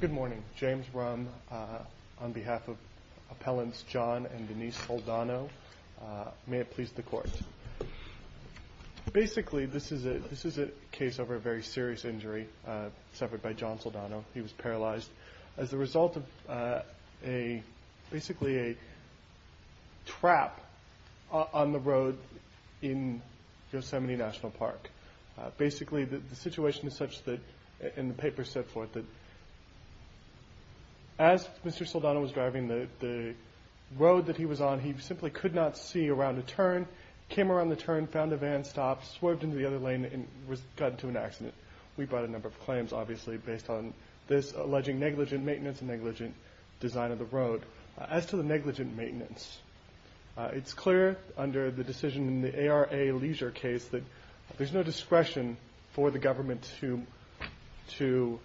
Good morning. James Ruhm on behalf of Appellants John and Denise Saldano. May it please the Court. Basically this is a case over a very serious injury suffered by John Saldano. He was paralyzed as a result of basically a trap on the road in Yosemite National Park. Basically the situation is such that, and the paper said for it, that as Mr. Saldano was driving the road that he was on, he simply could not see around a turn, came around the turn, found a van, stopped, swerved into the other lane and got into an accident. We brought a number of claims obviously based on this alleging negligent maintenance and negligent design of the road. As to the negligent maintenance, it's clear under the decision in the ARA Leisure case that there's no discretion for the government to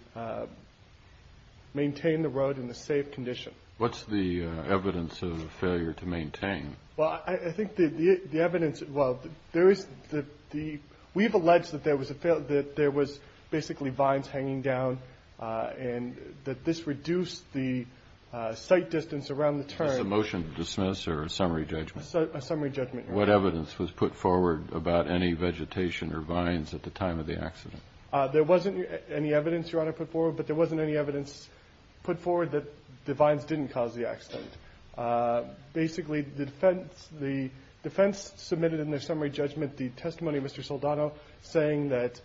maintain the road in a safe condition. What's the evidence of the failure to maintain? Well, I think the evidence, well, we've alleged that there was basically vines hanging down and that this reduced the sight distance around the turn. Is this a motion to dismiss or a summary judgment? A summary judgment. What evidence was put forward about any vegetation or vines at the time of the accident? There wasn't any evidence, Your Honor, put forward, but there wasn't any evidence put forward that the vines didn't cause the accident. Basically the defense submitted in their summary judgment the testimony of Mr. Saldano saying that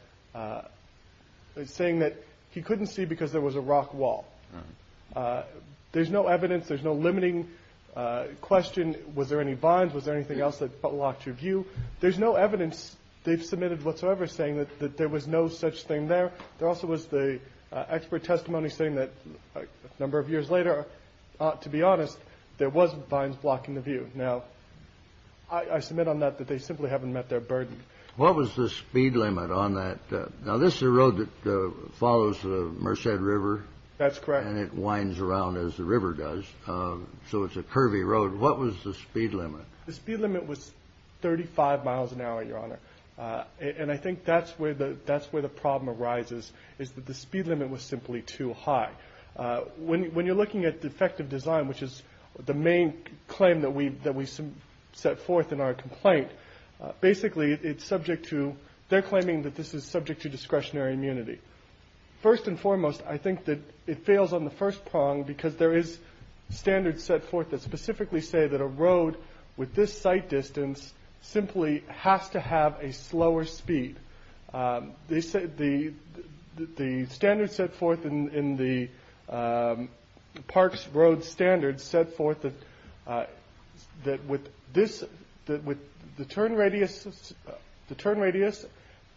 he couldn't see because there was a rock wall. There's no evidence, there's no limiting question, was there any vines, was there anything else that blocked your view? There's no evidence they've submitted whatsoever saying that there was no such thing there. There also was the expert testimony saying that a number of years later, to be honest, there was vines blocking the view. Now, I submit on that that they simply haven't met their burden. What was the speed limit on that? Now, this is a road that follows the Merced River. That's correct. And it winds around as the river does, so it's a curvy road. What was the speed limit? The speed limit was 35 miles an hour, Your Honor. And I think that's where the problem arises, is that the speed limit was simply too high. When you're looking at defective design, which is the main claim that we set forth in our complaint, basically it's subject to they're claiming that this is subject to discretionary immunity. First and foremost, I think that it fails on the first prong, because there is standards set forth that specifically say that a road with this site distance simply has to have a slower speed. The standards set forth in the parks road standards set forth that with the turn radius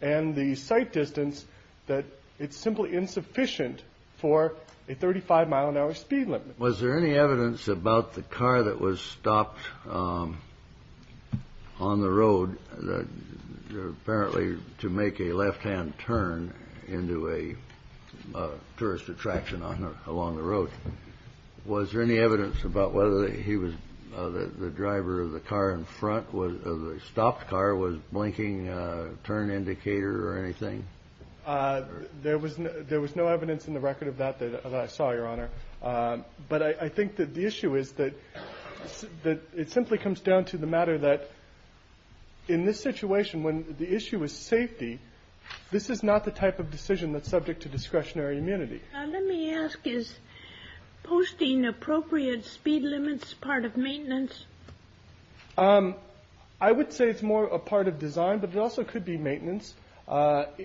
and the site distance, that it's simply insufficient for a 35-mile-an-hour speed limit. Was there any evidence about the car that was stopped on the road that apparently to make a left-hand turn into a tourist attraction along the road, was there any evidence about whether he was the driver of the car in front of the stopped car was blinking a turn indicator or anything? There was no evidence in the record of that that I saw, Your Honor. But I think that the issue is that it simply comes down to the matter that in this situation, when the issue is safety, this is not the type of decision that's subject to discretionary immunity. Now, let me ask, is posting appropriate speed limits part of maintenance? I would say it's more a part of design, but it also could be maintenance.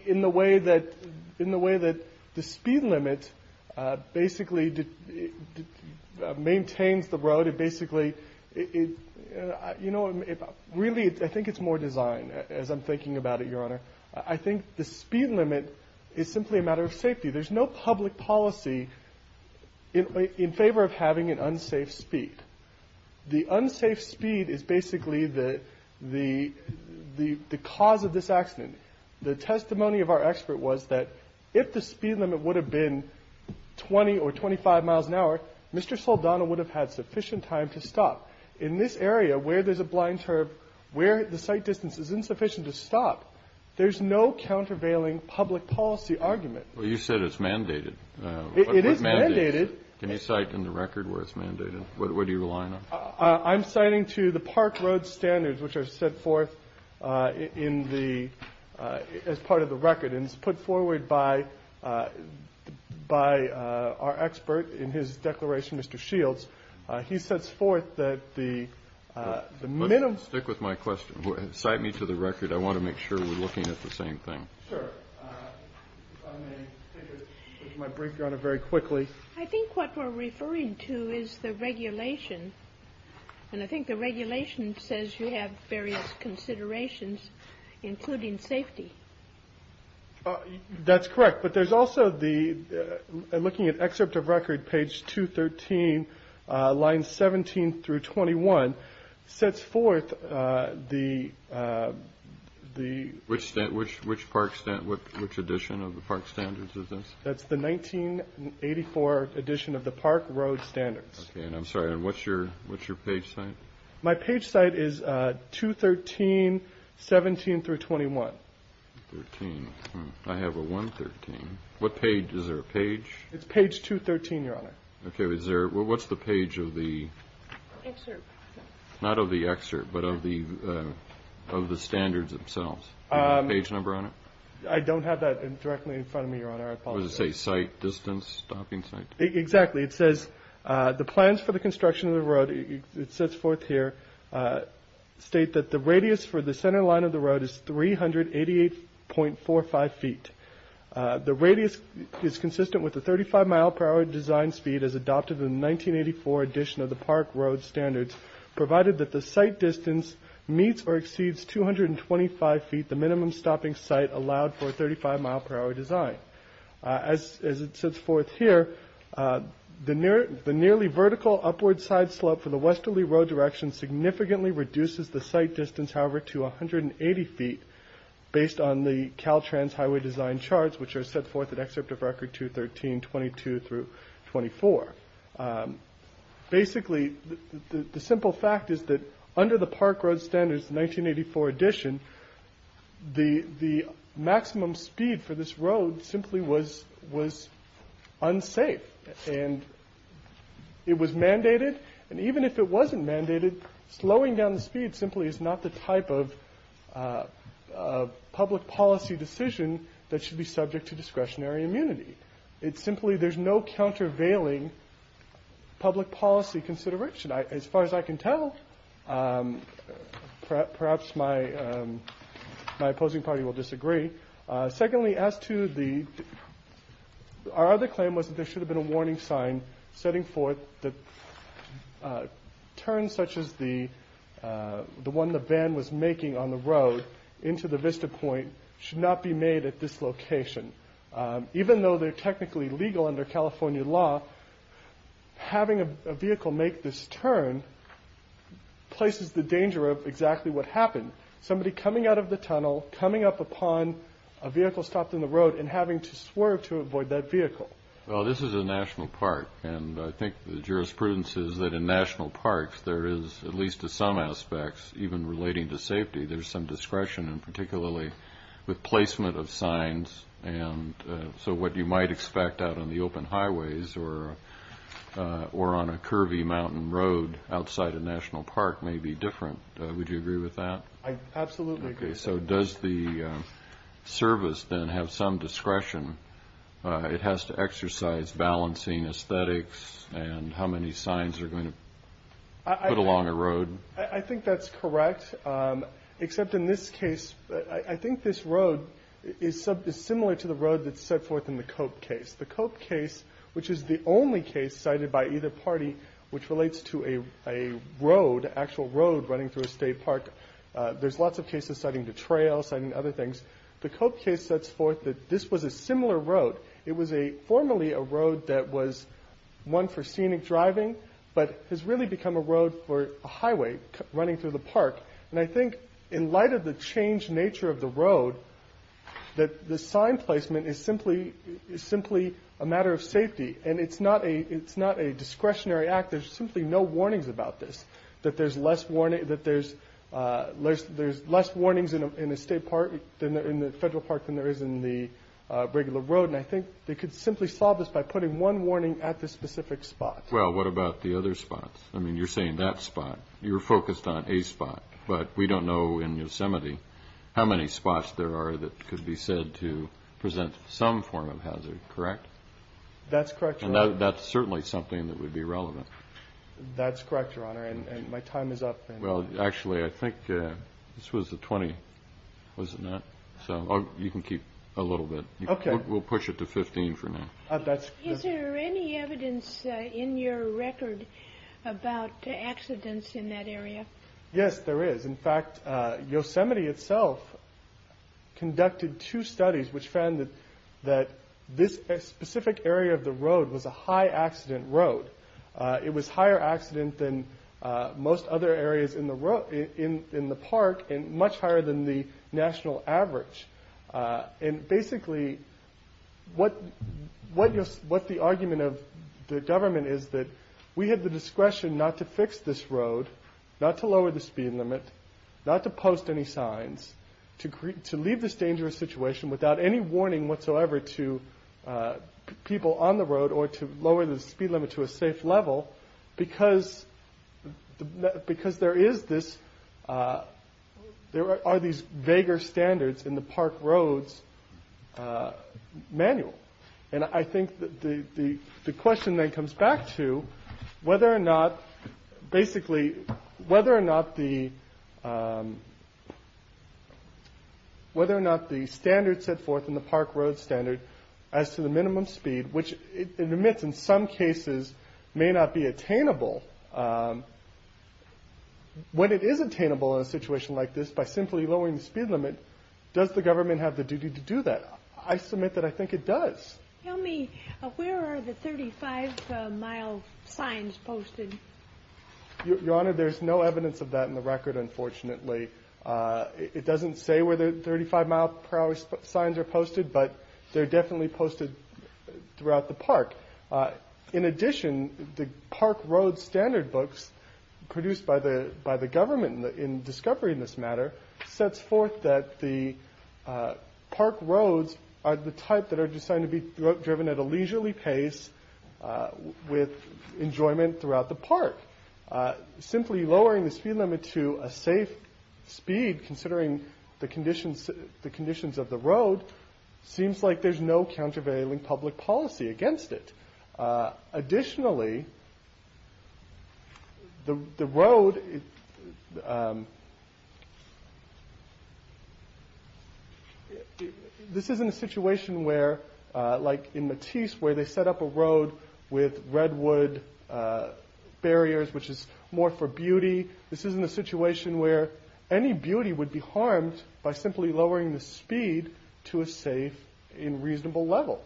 In the way that the speed limit basically maintains the road, it basically – you know, really, I think it's more design, as I'm thinking about it, Your Honor. I think the speed limit is simply a matter of safety. There's no public policy in favor of having an unsafe speed. The unsafe speed is basically the cause of this accident. The testimony of our expert was that if the speed limit would have been 20 or 25 miles an hour, Mr. Saldana would have had sufficient time to stop. In this area, where there's a blind turb, where the sight distance is insufficient to stop, there's no countervailing public policy argument. Well, you said it's mandated. It is mandated. Can you cite in the record where it's mandated? What are you relying on? I'm citing to the park road standards, which are set forth in the – as part of the record. And it's put forward by our expert in his declaration, Mr. Shields. He sets forth that the minimum – Stick with my question. Cite me to the record. I want to make sure we're looking at the same thing. Sure. If I may take my break, Your Honor, very quickly. I think what we're referring to is the regulation. And I think the regulation says you have various considerations, including safety. That's correct. But there's also the – looking at excerpt of record, page 213, lines 17 through 21, sets forth the – Which park – which edition of the park standards is this? That's the 1984 edition of the park road standards. Okay. And I'm sorry. And what's your – what's your page site? My page site is 213, 17 through 21. I have a 113. What page – is there a page? It's page 213, Your Honor. Okay. Is there – what's the page of the – Excerpt. Not of the excerpt, but of the standards themselves. Page number on it? I don't have that directly in front of me, Your Honor. I apologize. Does it say site distance, stopping site? Exactly. It says the plans for the construction of the road – it sets forth here – state that the radius for the center line of the road is 388.45 feet. The radius is consistent with the 35-mile-per-hour design speed as adopted in the 1984 edition of the park road standards, provided that the site distance meets or exceeds 225 feet, the minimum stopping site allowed for a 35-mile-per-hour design. As it sets forth here, the nearly vertical upward side slope for the westerly road direction significantly reduces the site distance, however, to 180 feet based on the Caltrans highway design charts, which are set forth in Excerpt of Record 213, 22 through 24. Basically, the simple fact is that under the park road standards 1984 edition, the maximum speed for this road simply was unsafe. And it was mandated. And even if it wasn't mandated, slowing down the speed simply is not the type of public policy decision that should be subject to discretionary immunity. It's simply there's no countervailing public policy consideration. As far as I can tell, perhaps my opposing party will disagree. Secondly, as to the – our other claim was that there should have been a warning sign setting forth that turns such as the one the van was making on the road into the vista point should not be made at this location. Even though they're technically legal under California law, having a vehicle make this turn places the danger of exactly what happened, somebody coming out of the tunnel, coming up upon a vehicle stopped in the road and having to swerve to avoid that vehicle. Well, this is a national park, and I think the jurisprudence is that in national parks there is, at least to some aspects, even relating to safety, there's some discretion, and particularly with placement of signs. And so what you might expect out on the open highways or on a curvy mountain road outside a national park may be different. Would you agree with that? Absolutely. Okay, so does the service then have some discretion? It has to exercise balancing aesthetics and how many signs are going to put along a road. I think that's correct, except in this case, I think this road is similar to the road that's set forth in the Cope case. The Cope case, which is the only case cited by either party which relates to a road, an actual road running through a state park. There's lots of cases citing the trail, citing other things. The Cope case sets forth that this was a similar road. It was formerly a road that was one for scenic driving but has really become a road for a highway running through the park. And I think in light of the changed nature of the road, that the sign placement is simply a matter of safety. And it's not a discretionary act. There's simply no warnings about this, that there's less warnings in a federal park than there is in the regular road. And I think they could simply solve this by putting one warning at the specific spot. Well, what about the other spots? I mean, you're saying that spot. You're focused on a spot. But we don't know in Yosemite how many spots there are that could be said to present some form of hazard, correct? That's correct, Your Honor. And that's certainly something that would be relevant. That's correct, Your Honor, and my time is up. Well, actually, I think this was the 20, was it not? You can keep a little bit. Okay. We'll push it to 15 for now. Is there any evidence in your record about accidents in that area? Yes, there is. In fact, Yosemite itself conducted two studies which found that this specific area of the road was a high-accident road. It was higher accident than most other areas in the park and much higher than the national average. And basically, what the argument of the government is that we have the discretion not to fix this road, not to lower the speed limit, not to post any signs, to leave this dangerous situation without any warning whatsoever to people on the road or to lower the speed limit to a safe level because there is this, there are these vaguer standards in the Park Roads Manual. And I think the question then comes back to whether or not, basically, whether or not the standards set forth in the Park Roads Standard as to the minimum speed, which it admits in some cases may not be attainable. When it is attainable in a situation like this by simply lowering the speed limit, does the government have the duty to do that? I submit that I think it does. Tell me, where are the 35-mile signs posted? Your Honor, there's no evidence of that in the record, unfortunately. It doesn't say where the 35-mile per hour signs are posted, but they're definitely posted throughout the park. In addition, the Park Roads Standard books produced by the government in discovery in this matter sets forth that the park roads are the type that are designed to be driven at a leisurely pace with enjoyment throughout the park. Simply lowering the speed limit to a safe speed, considering the conditions of the road, seems like there's no countervailing public policy against it. Additionally, the road... This isn't a situation where, like in Matisse, where they set up a road with redwood barriers, which is more for beauty. By simply lowering the speed to a safe and reasonable level.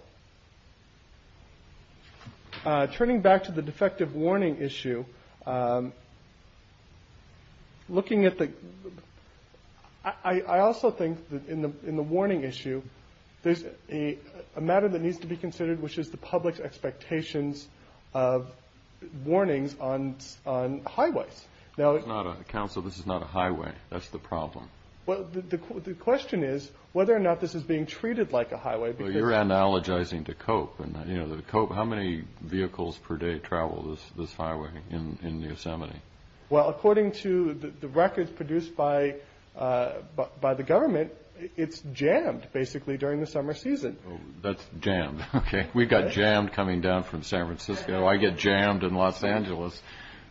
Turning back to the defective warning issue, looking at the... I also think that in the warning issue, there's a matter that needs to be considered, which is the public's expectations of warnings on highways. Counsel, this is not a highway. That's the problem. The question is whether or not this is being treated like a highway. You're analogizing to Cope. How many vehicles per day travel this highway in Yosemite? Well, according to the records produced by the government, it's jammed, basically, during the summer season. That's jammed. We've got jammed coming down from San Francisco. I get jammed in Los Angeles.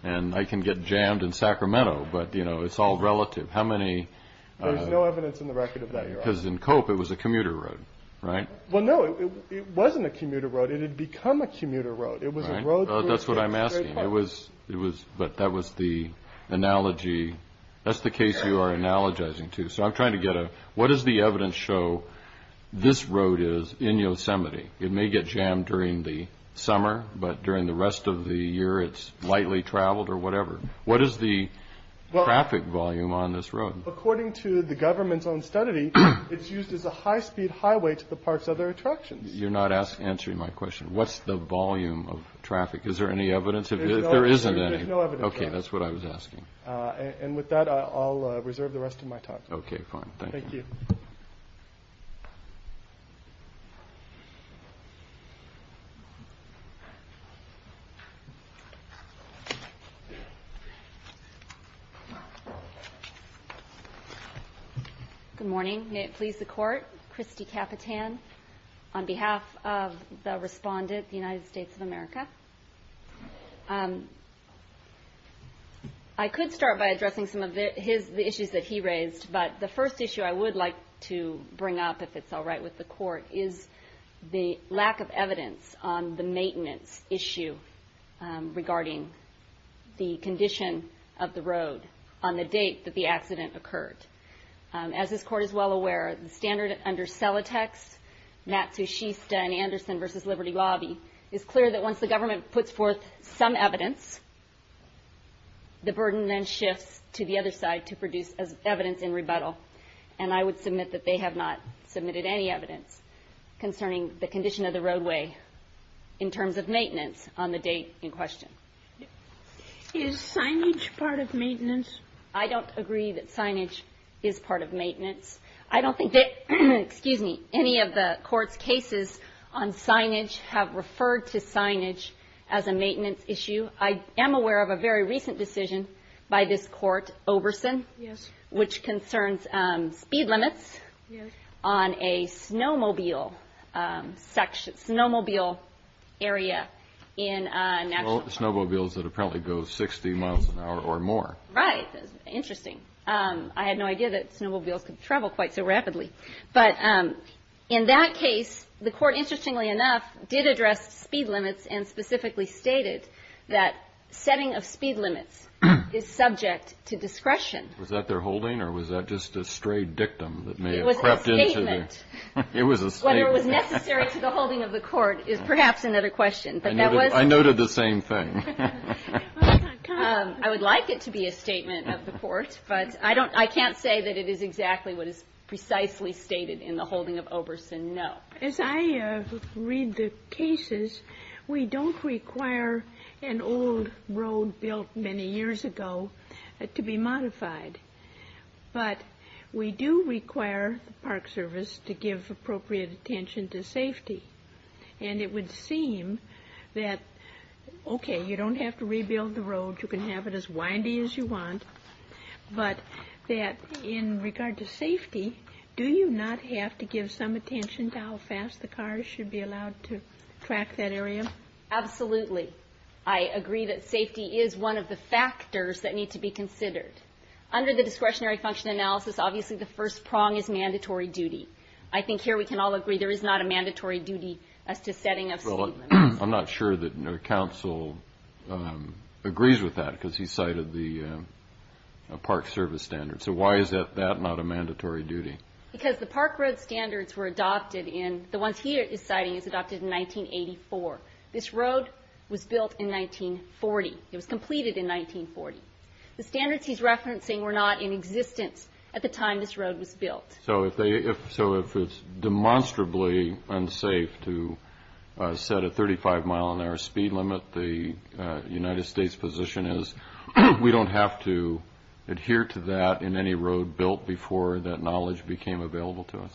And I can get jammed in Sacramento. But it's all relative. There's no evidence in the record of that, Your Honor. Because in Cope, it was a commuter road, right? Well, no, it wasn't a commuter road. It had become a commuter road. That's what I'm asking. But that was the analogy. That's the case you are analogizing to. So I'm trying to get a... What does the evidence show this road is in Yosemite? It may get jammed during the summer, but during the rest of the year, it's lightly traveled or whatever. What is the traffic volume on this road? According to the government's own study, it's used as a high-speed highway to the park's other attractions. You're not answering my question. What's the volume of traffic? Is there any evidence? There's no evidence. Okay, that's what I was asking. And with that, I'll reserve the rest of my time. Okay, fine. Thank you. Thank you. Good morning. May it please the Court. Christy Capitan on behalf of the respondent, the United States of America. I could start by addressing some of the issues that he raised, but the first issue I would like to bring up, if it's all right with the Court, is the lack of evidence on the maintenance issue regarding the condition of the road on the date that the accident occurred. As this Court is well aware, the standard under Celotex, Matsushista, and Anderson v. Liberty Lobby is clear that once the government puts forth some evidence, the burden then shifts to the other side to produce evidence in rebuttal. And I would submit that they have not submitted any evidence concerning the condition of the roadway in terms of maintenance on the date in question. Is signage part of maintenance? I don't agree that signage is part of maintenance. I don't think that any of the Court's cases on signage have referred to signage as a maintenance issue. I am aware of a very recent decision by this Court, Oberson, Yes. which concerns speed limits on a snowmobile area in a national park. Snowmobiles that apparently go 60 miles an hour or more. Right. Interesting. I had no idea that snowmobiles could travel quite so rapidly. But in that case, the Court, interestingly enough, did address speed limits and specifically stated that setting of speed limits is subject to discretion. Was that their holding or was that just a stray dictum that may have crept into the It was a statement. It was a statement. Whether it was necessary to the holding of the Court is perhaps another question. But that was I noted the same thing. I would like it to be a statement of the Court, but I can't say that it is exactly what is precisely stated in the holding of Oberson, no. As I read the cases, we don't require an old road built many years ago to be modified. But we do require the Park Service to give appropriate attention to safety. And it would seem that, okay, you don't have to rebuild the road. You can have it as windy as you want. But that in regard to safety, do you not have to give some attention to how fast the cars should be allowed to track that area? Absolutely. I agree that safety is one of the factors that need to be considered. Under the discretionary function analysis, obviously the first prong is mandatory duty. I think here we can all agree there is not a mandatory duty as to setting up speed limits. I'm not sure that counsel agrees with that because he cited the Park Service standards. So why is that not a mandatory duty? Because the Park Road standards were adopted in the ones he is citing were adopted in 1984. This road was built in 1940. It was completed in 1940. The standards he's referencing were not in existence at the time this road was built. So if it's demonstrably unsafe to set a 35-mile-an-hour speed limit, the United States position is we don't have to adhere to that in any road built before that knowledge became available to us.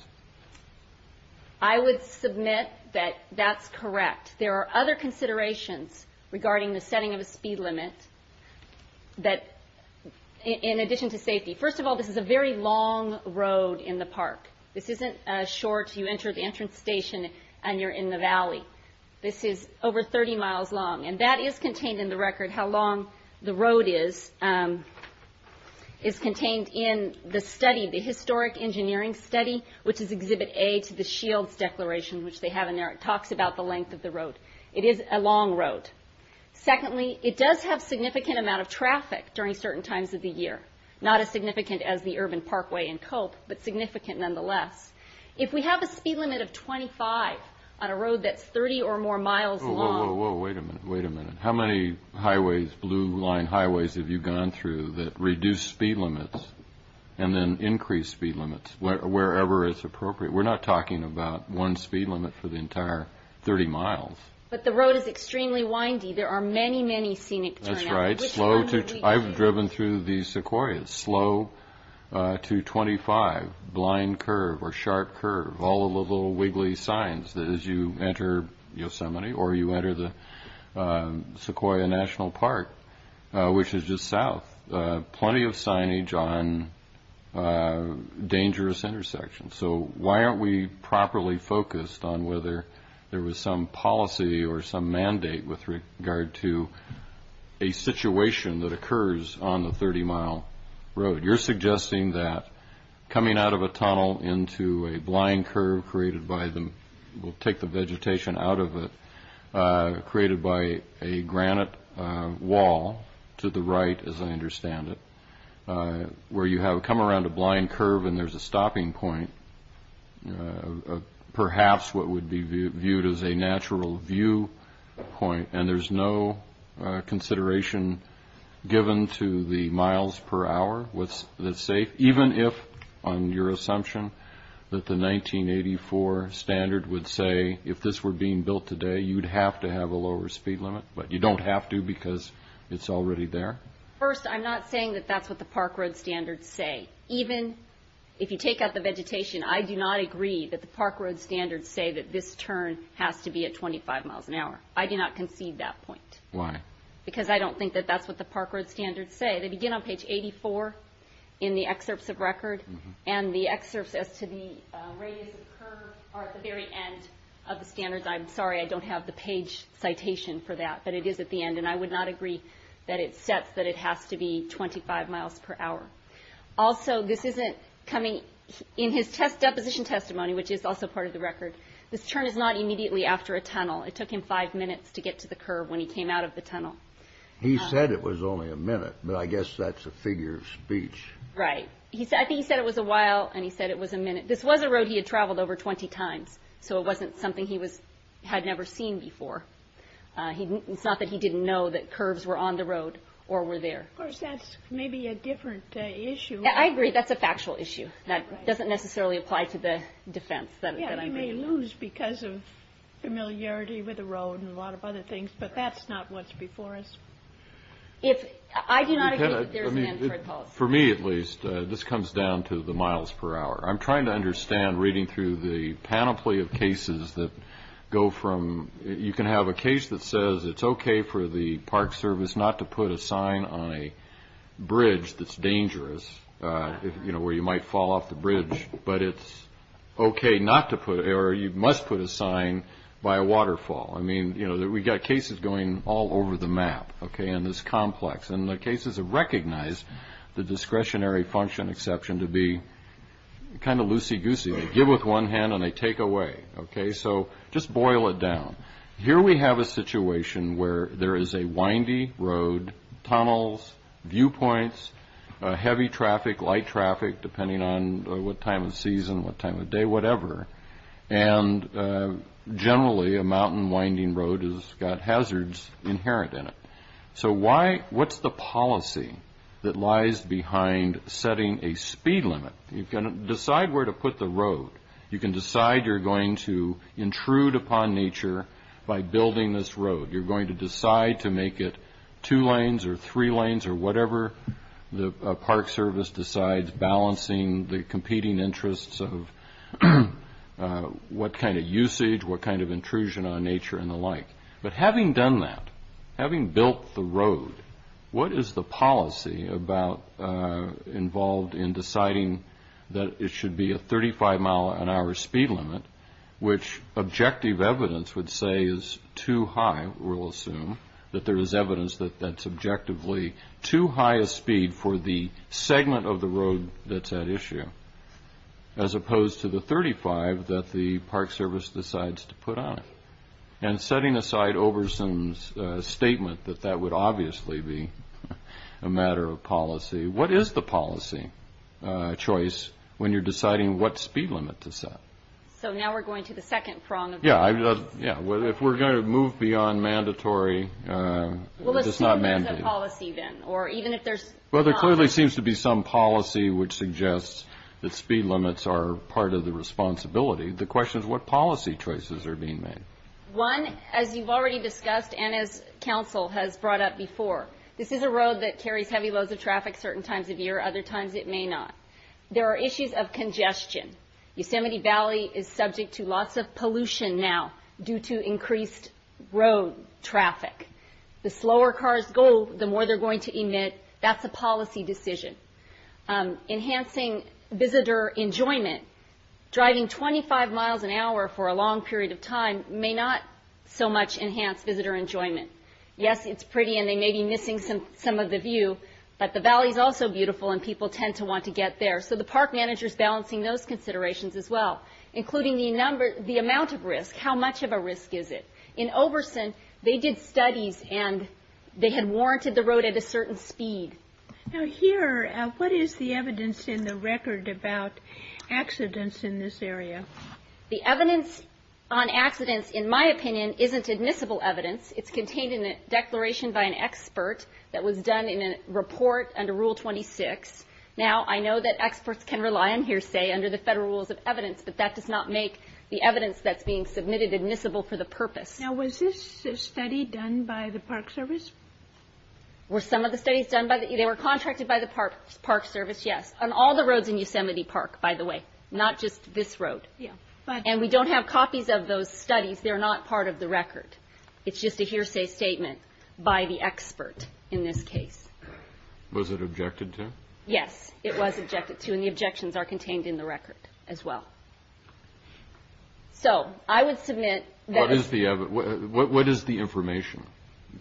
I would submit that that's correct. There are other considerations regarding the setting of a speed limit that in addition to safety. First of all, this is a very long road in the park. This isn't short. You enter the entrance station and you're in the valley. This is over 30 miles long, and that is contained in the record, how long the road is contained in the study, the historic engineering study, which is Exhibit A to the Shields Declaration, which they have in there. It talks about the length of the road. It is a long road. Secondly, it does have significant amount of traffic during certain times of the year, not as significant as the urban parkway in Culp, but significant nonetheless. If we have a speed limit of 25 on a road that's 30 or more miles long. Whoa, whoa, whoa, wait a minute, wait a minute. How many highways, blue-line highways, have you gone through that reduce speed limits and then increase speed limits wherever it's appropriate? We're not talking about one speed limit for the entire 30 miles. But the road is extremely windy. There are many, many scenic turnouts. I've driven through the Sequoias, slow to 25, blind curve or sharp curve, all the little wiggly signs that as you enter Yosemite or you enter the Sequoia National Park, which is just south, plenty of signage on dangerous intersections. So why aren't we properly focused on whether there was some policy or some mandate with regard to a situation that occurs on the 30-mile road? You're suggesting that coming out of a tunnel into a blind curve created by the, we'll take the vegetation out of it, created by a granite wall to the right, as I understand it, where you have come around a blind curve and there's a stopping point, perhaps what would be viewed as a natural view point, and there's no consideration given to the miles per hour that's safe, even if, on your assumption, that the 1984 standard would say, if this were being built today, you'd have to have a lower speed limit, but you don't have to because it's already there? First, I'm not saying that that's what the park road standards say. Even if you take out the vegetation, I do not agree that the park road standards say that this turn has to be at 25 miles an hour. I do not concede that point. Why? Because I don't think that that's what the park road standards say. They begin on page 84 in the excerpts of record, and the excerpts as to the radius of curve are at the very end of the standards. I'm sorry I don't have the page citation for that, but it is at the end, and I would not agree that it sets that it has to be 25 miles per hour. Also, in his deposition testimony, which is also part of the record, this turn is not immediately after a tunnel. It took him five minutes to get to the curve when he came out of the tunnel. He said it was only a minute, but I guess that's a figure of speech. Right. I think he said it was a while, and he said it was a minute. This was a road he had traveled over 20 times, so it wasn't something he had never seen before. It's not that he didn't know that curves were on the road or were there. Of course, that's maybe a different issue. Yeah, I agree. That's a factual issue. That doesn't necessarily apply to the defense that I made. Yeah, he may lose because of familiarity with the road and a lot of other things, but that's not what's before us. If I do not agree, there's an answer I'd call. For me, at least, this comes down to the miles per hour. I'm trying to understand reading through the panoply of cases that go from you can have a case that says it's okay for the park service not to put a sign on a bridge that's dangerous where you might fall off the bridge, but it's okay not to put it or you must put a sign by a waterfall. I mean, we've got cases going all over the map in this complex, and the cases have recognized the discretionary function exception to be kind of loosey-goosey. They give with one hand and they take away. So just boil it down. Here we have a situation where there is a windy road, tunnels, viewpoints, heavy traffic, light traffic, depending on what time of season, what time of day, whatever, and generally a mountain winding road has got hazards inherent in it. So what's the policy that lies behind setting a speed limit? You can decide where to put the road. You can decide you're going to intrude upon nature by building this road. You're going to decide to make it two lanes or three lanes or whatever. The park service decides balancing the competing interests of what kind of usage, what kind of intrusion on nature and the like. What is the policy involved in deciding that it should be a 35-mile-an-hour speed limit, which objective evidence would say is too high, we'll assume, that there is evidence that that's objectively too high a speed for the segment of the road that's at issue, as opposed to the 35 that the park service decides to put on it? And setting aside Oberson's statement that that would obviously be a matter of policy, what is the policy choice when you're deciding what speed limit to set? So now we're going to the second prong of the question. Yeah, if we're going to move beyond mandatory, it's not mandatory. We'll assume there's a policy then, or even if there's policy. Well, there clearly seems to be some policy which suggests that speed limits are part of the responsibility. The question is what policy choices are being made? One, as you've already discussed and as Council has brought up before, this is a road that carries heavy loads of traffic certain times of year, other times it may not. There are issues of congestion. Yosemite Valley is subject to lots of pollution now due to increased road traffic. The slower cars go, the more they're going to emit. That's a policy decision. Enhancing visitor enjoyment. Driving 25 miles an hour for a long period of time may not so much enhance visitor enjoyment. Yes, it's pretty and they may be missing some of the view, but the valley is also beautiful and people tend to want to get there. So the park manager is balancing those considerations as well, including the amount of risk. How much of a risk is it? In Oberson, they did studies and they had warranted the road at a certain speed. Now here, what is the evidence in the record about accidents in this area? The evidence on accidents, in my opinion, isn't admissible evidence. It's contained in a declaration by an expert that was done in a report under Rule 26. Now, I know that experts can rely on hearsay under the federal rules of evidence, but that does not make the evidence that's being submitted admissible for the purpose. Now, was this a study done by the Park Service? Were some of the studies done by the Park Service? Yes. On all the roads in Yosemite Park, by the way, not just this road. And we don't have copies of those studies. They're not part of the record. It's just a hearsay statement by the expert in this case. Was it objected to? Yes, it was objected to, and the objections are contained in the record as well. So I would submit that it's the evidence. What is the information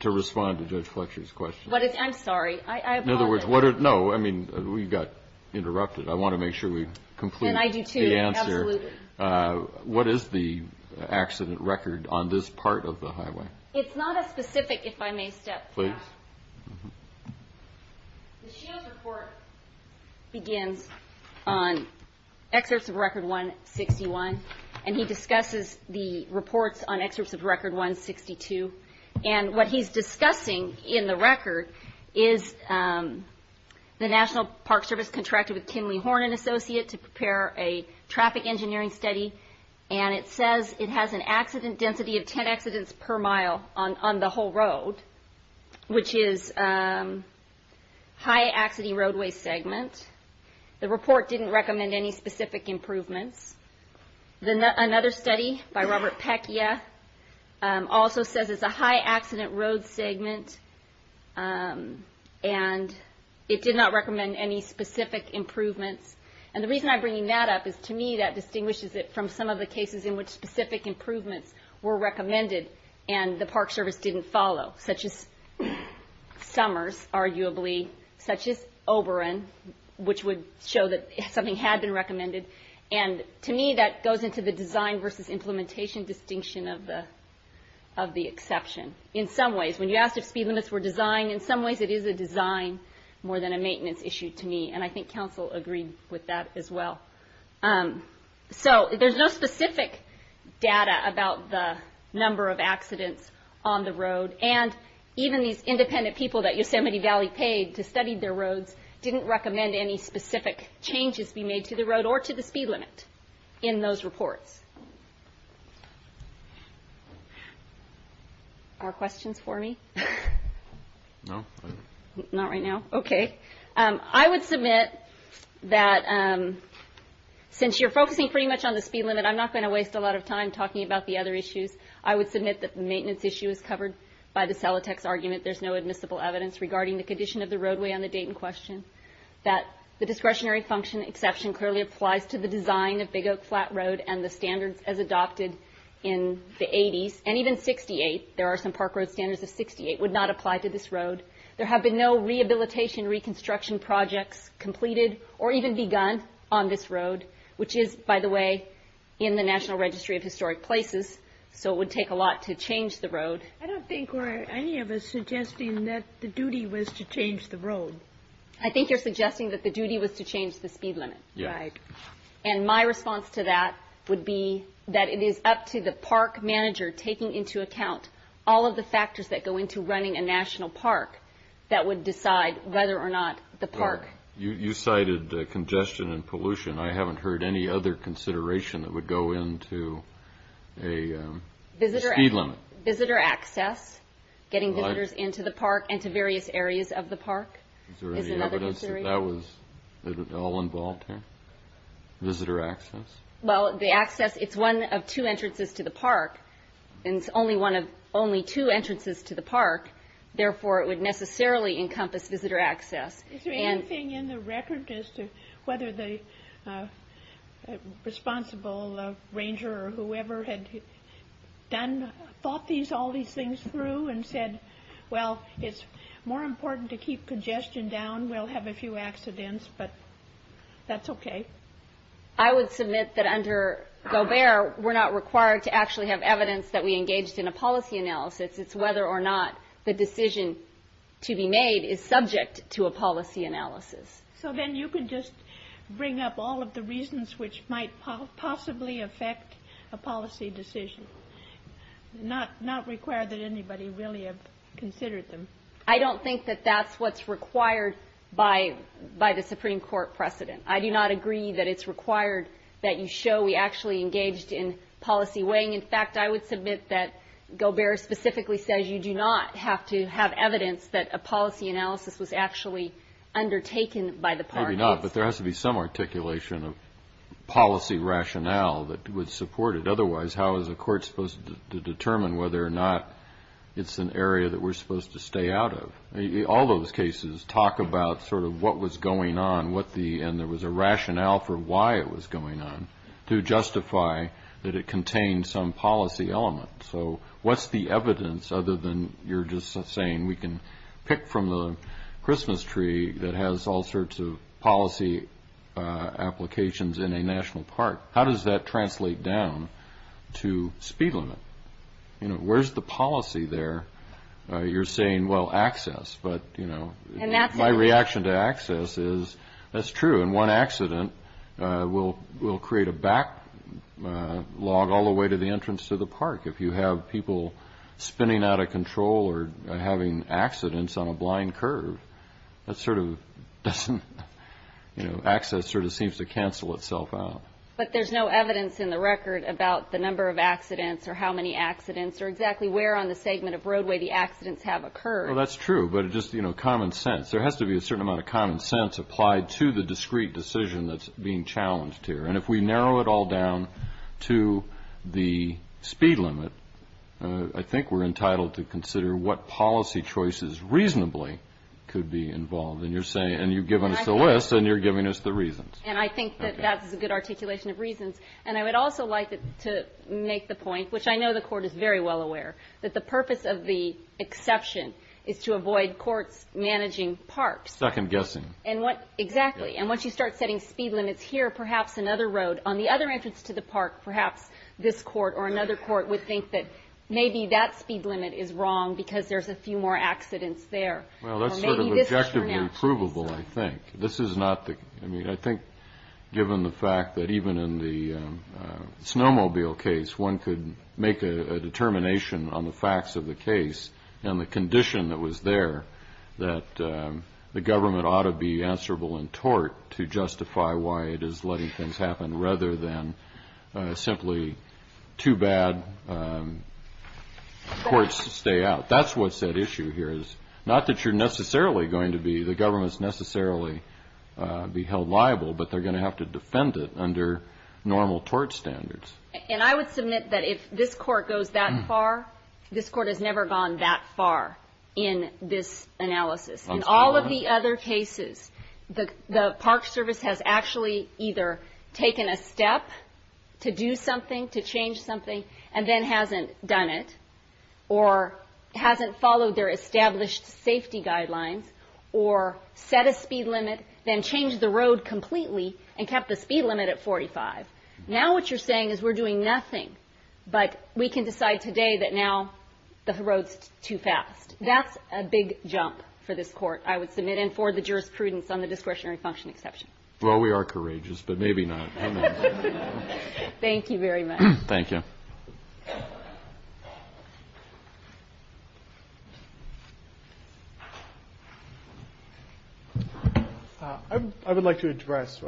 to respond to Judge Fletcher's question? I'm sorry, I apologize. No, I mean, we got interrupted. I want to make sure we complete the answer. Can I do two? Absolutely. What is the accident record on this part of the highway? It's not a specific, if I may step back. Please. The Sheo's report begins on excerpts of Record 161, and he discusses the reports on excerpts of Record 162. And what he's discussing in the record is the National Park Service contracted with Kenley Horn and Associates to prepare a traffic engineering study, and it says it has an accident density of 10 accidents per mile on the whole road, which is a high-accident roadway segment. The report didn't recommend any specific improvements. Another study by Robert Peccia also says it's a high-accident road segment, and it did not recommend any specific improvements. And the reason I'm bringing that up is, to me, that distinguishes it from some of the cases in which specific improvements were recommended and the Park Service didn't follow, such as Summers, arguably, such as Oberon, which would show that something had been recommended. And to me, that goes into the design versus implementation distinction of the exception. In some ways, when you asked if speed limits were designed, in some ways it is a design more than a maintenance issue to me, and I think Council agreed with that as well. So there's no specific data about the number of accidents on the road, and even these independent people that Yosemite Valley paid to study their roads didn't recommend any specific changes be made to the road or to the speed limit in those reports. Are there questions for me? No. Not right now? Okay. I would submit that since you're focusing pretty much on the speed limit, I'm not going to waste a lot of time talking about the other issues. I would submit that the maintenance issue is covered by the Celotex argument. There's no admissible evidence regarding the condition of the roadway on the date in question, that the discretionary function exception clearly applies to the design of Big Oak Flat Road and the standards as adopted in the 80s, and even 68. There are some park road standards of 68 would not apply to this road. There have been no rehabilitation reconstruction projects completed or even begun on this road, which is, by the way, in the National Registry of Historic Places, so it would take a lot to change the road. I don't think we're any of us suggesting that the duty was to change the road. I think you're suggesting that the duty was to change the speed limit. Yes. And my response to that would be that it is up to the park manager taking into account all of the factors that go into running a national park that would decide whether or not the park. You cited congestion and pollution. I haven't heard any other consideration that would go into a speed limit. Visitor access, getting visitors into the park and to various areas of the park. Is there any evidence that that was at all involved here, visitor access? Well, the access, it's one of two entrances to the park, and it's only two entrances to the park. Therefore, it would necessarily encompass visitor access. Is there anything in the record as to whether the responsible ranger or whoever had thought all these things through and said, well, it's more important to keep congestion down. We'll have a few accidents, but that's okay. I would submit that under Gobert, we're not required to actually have evidence that we engaged in a policy analysis. It's whether or not the decision to be made is subject to a policy analysis. So then you can just bring up all of the reasons which might possibly affect a policy decision, not require that anybody really have considered them. I don't think that that's what's required by the Supreme Court precedent. I do not agree that it's required that you show we actually engaged in policy weighing. In fact, I would submit that Gobert specifically says you do not have to have evidence that a policy analysis was actually undertaken by the park. Maybe not, but there has to be some articulation of policy rationale that would support it. Otherwise, how is a court supposed to determine whether or not it's an area that we're supposed to stay out of? All those cases talk about sort of what was going on and there was a rationale for why it was going on to justify that it contained some policy element. So what's the evidence other than you're just saying we can pick from the Christmas tree that has all sorts of policy applications in a national park? How does that translate down to speed limit? Where's the policy there? You're saying, well, access, but my reaction to access is that's true. And one accident will create a backlog all the way to the entrance to the park. If you have people spinning out of control or having accidents on a blind curve, that sort of doesn't – access sort of seems to cancel itself out. But there's no evidence in the record about the number of accidents or how many accidents or exactly where on the segment of roadway the accidents have occurred. Well, that's true. But just, you know, common sense. There has to be a certain amount of common sense applied to the discrete decision that's being challenged here. And if we narrow it all down to the speed limit, I think we're entitled to consider what policy choices reasonably could be involved. And you're saying – and you've given us the list and you're giving us the reasons. And I think that that's a good articulation of reasons. And I would also like to make the point, which I know the court is very well aware, that the purpose of the exception is to avoid courts managing parks. Second-guessing. Exactly. And once you start setting speed limits here, perhaps another road on the other entrance to the park, perhaps this court or another court would think that maybe that speed limit is wrong because there's a few more accidents there. Well, that's sort of objectively provable, I think. This is not the – I mean, I think given the fact that even in the snowmobile case, one could make a determination on the facts of the case and the condition that was there that the government ought to be answerable in tort to justify why it is letting things happen rather than simply too bad courts stay out. That's what's at issue here is not that you're necessarily going to be – the government's necessarily be held liable, but they're going to have to defend it under normal tort standards. And I would submit that if this court goes that far, this court has never gone that far in this analysis. In all of the other cases, the Park Service has actually either taken a step to do something, to change something, and then hasn't done it or hasn't followed their established safety guidelines or set a speed limit, then changed the road completely and kept the speed limit at 45. Now what you're saying is we're doing nothing, but we can decide today that now the road's too fast. That's a big jump for this court, I would submit, and for the jurisprudence on the discretionary function exception. Well, we are courageous, but maybe not. Thank you very much. Thank you. Thank you. I would like to address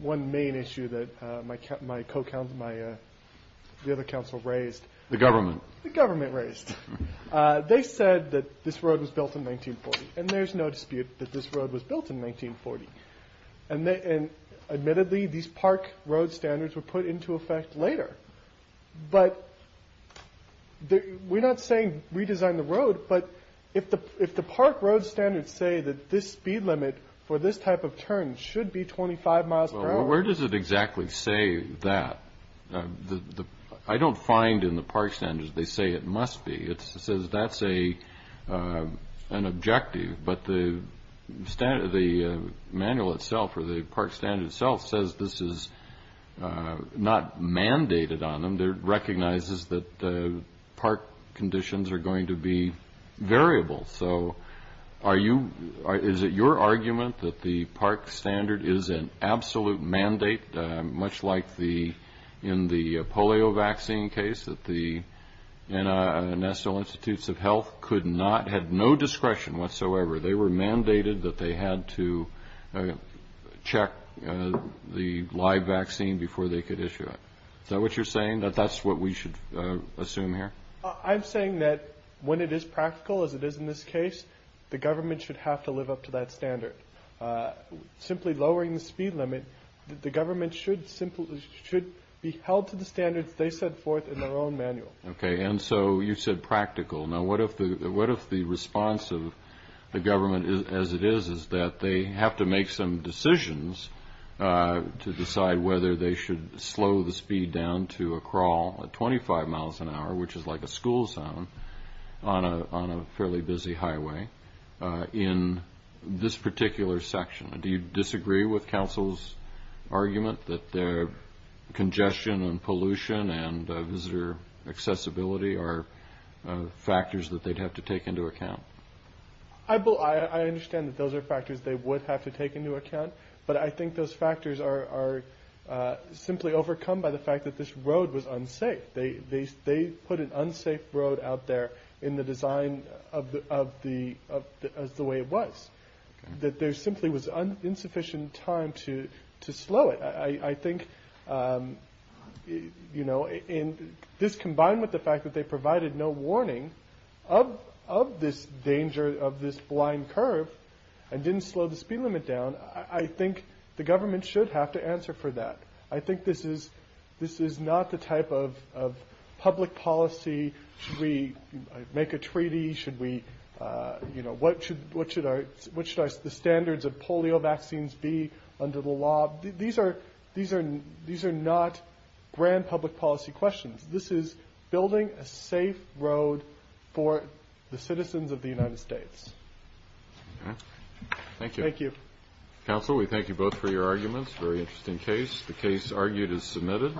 one main issue that my co-counsel, the other counsel raised. The government. The government raised. They said that this road was built in 1940, and there's no dispute that this road was built in 1940. Admittedly, these park road standards were put into effect later, but we're not saying redesign the road, but if the park road standards say that this speed limit for this type of turn should be 25 miles per hour. Well, where does it exactly say that? I don't find in the park standards they say it must be. It says that's an objective, but the manual itself or the park standard itself says this is not mandated on them. It recognizes that the park conditions are going to be variable. So is it your argument that the park standard is an absolute mandate, much like in the polio vaccine case that the National Institutes of Health could not have no discretion whatsoever. They were mandated that they had to check the live vaccine before they could issue it. So what you're saying that that's what we should assume here. I'm saying that when it is practical as it is in this case, the government should have to live up to that standard. Simply lowering the speed limit. The government should simply should be held to the standards they set forth in their own manual. OK. And so you said practical. Now, what if the response of the government as it is, is that they have to make some decisions to decide whether they should slow the speed down to a crawl at 25 miles an hour, which is like a school zone on a fairly busy highway in this particular section. Do you disagree with counsel's argument that their congestion and pollution and visitor accessibility are factors that they'd have to take into account? I understand that those are factors they would have to take into account. But I think those factors are simply overcome by the fact that this road was unsafe. They put an unsafe road out there in the design of the way it was, that there simply was insufficient time to slow it. I think, you know, this combined with the fact that they provided no warning of this danger, of this blind curve and didn't slow the speed limit down. I think the government should have to answer for that. I think this is not the type of public policy. Should we make a treaty? Should we, you know, what should the standards of polio vaccines be under the law? These are not grand public policy questions. This is building a safe road for the citizens of the United States. Thank you. Thank you. Counsel, we thank you both for your arguments. Very interesting case. The case argued is submitted.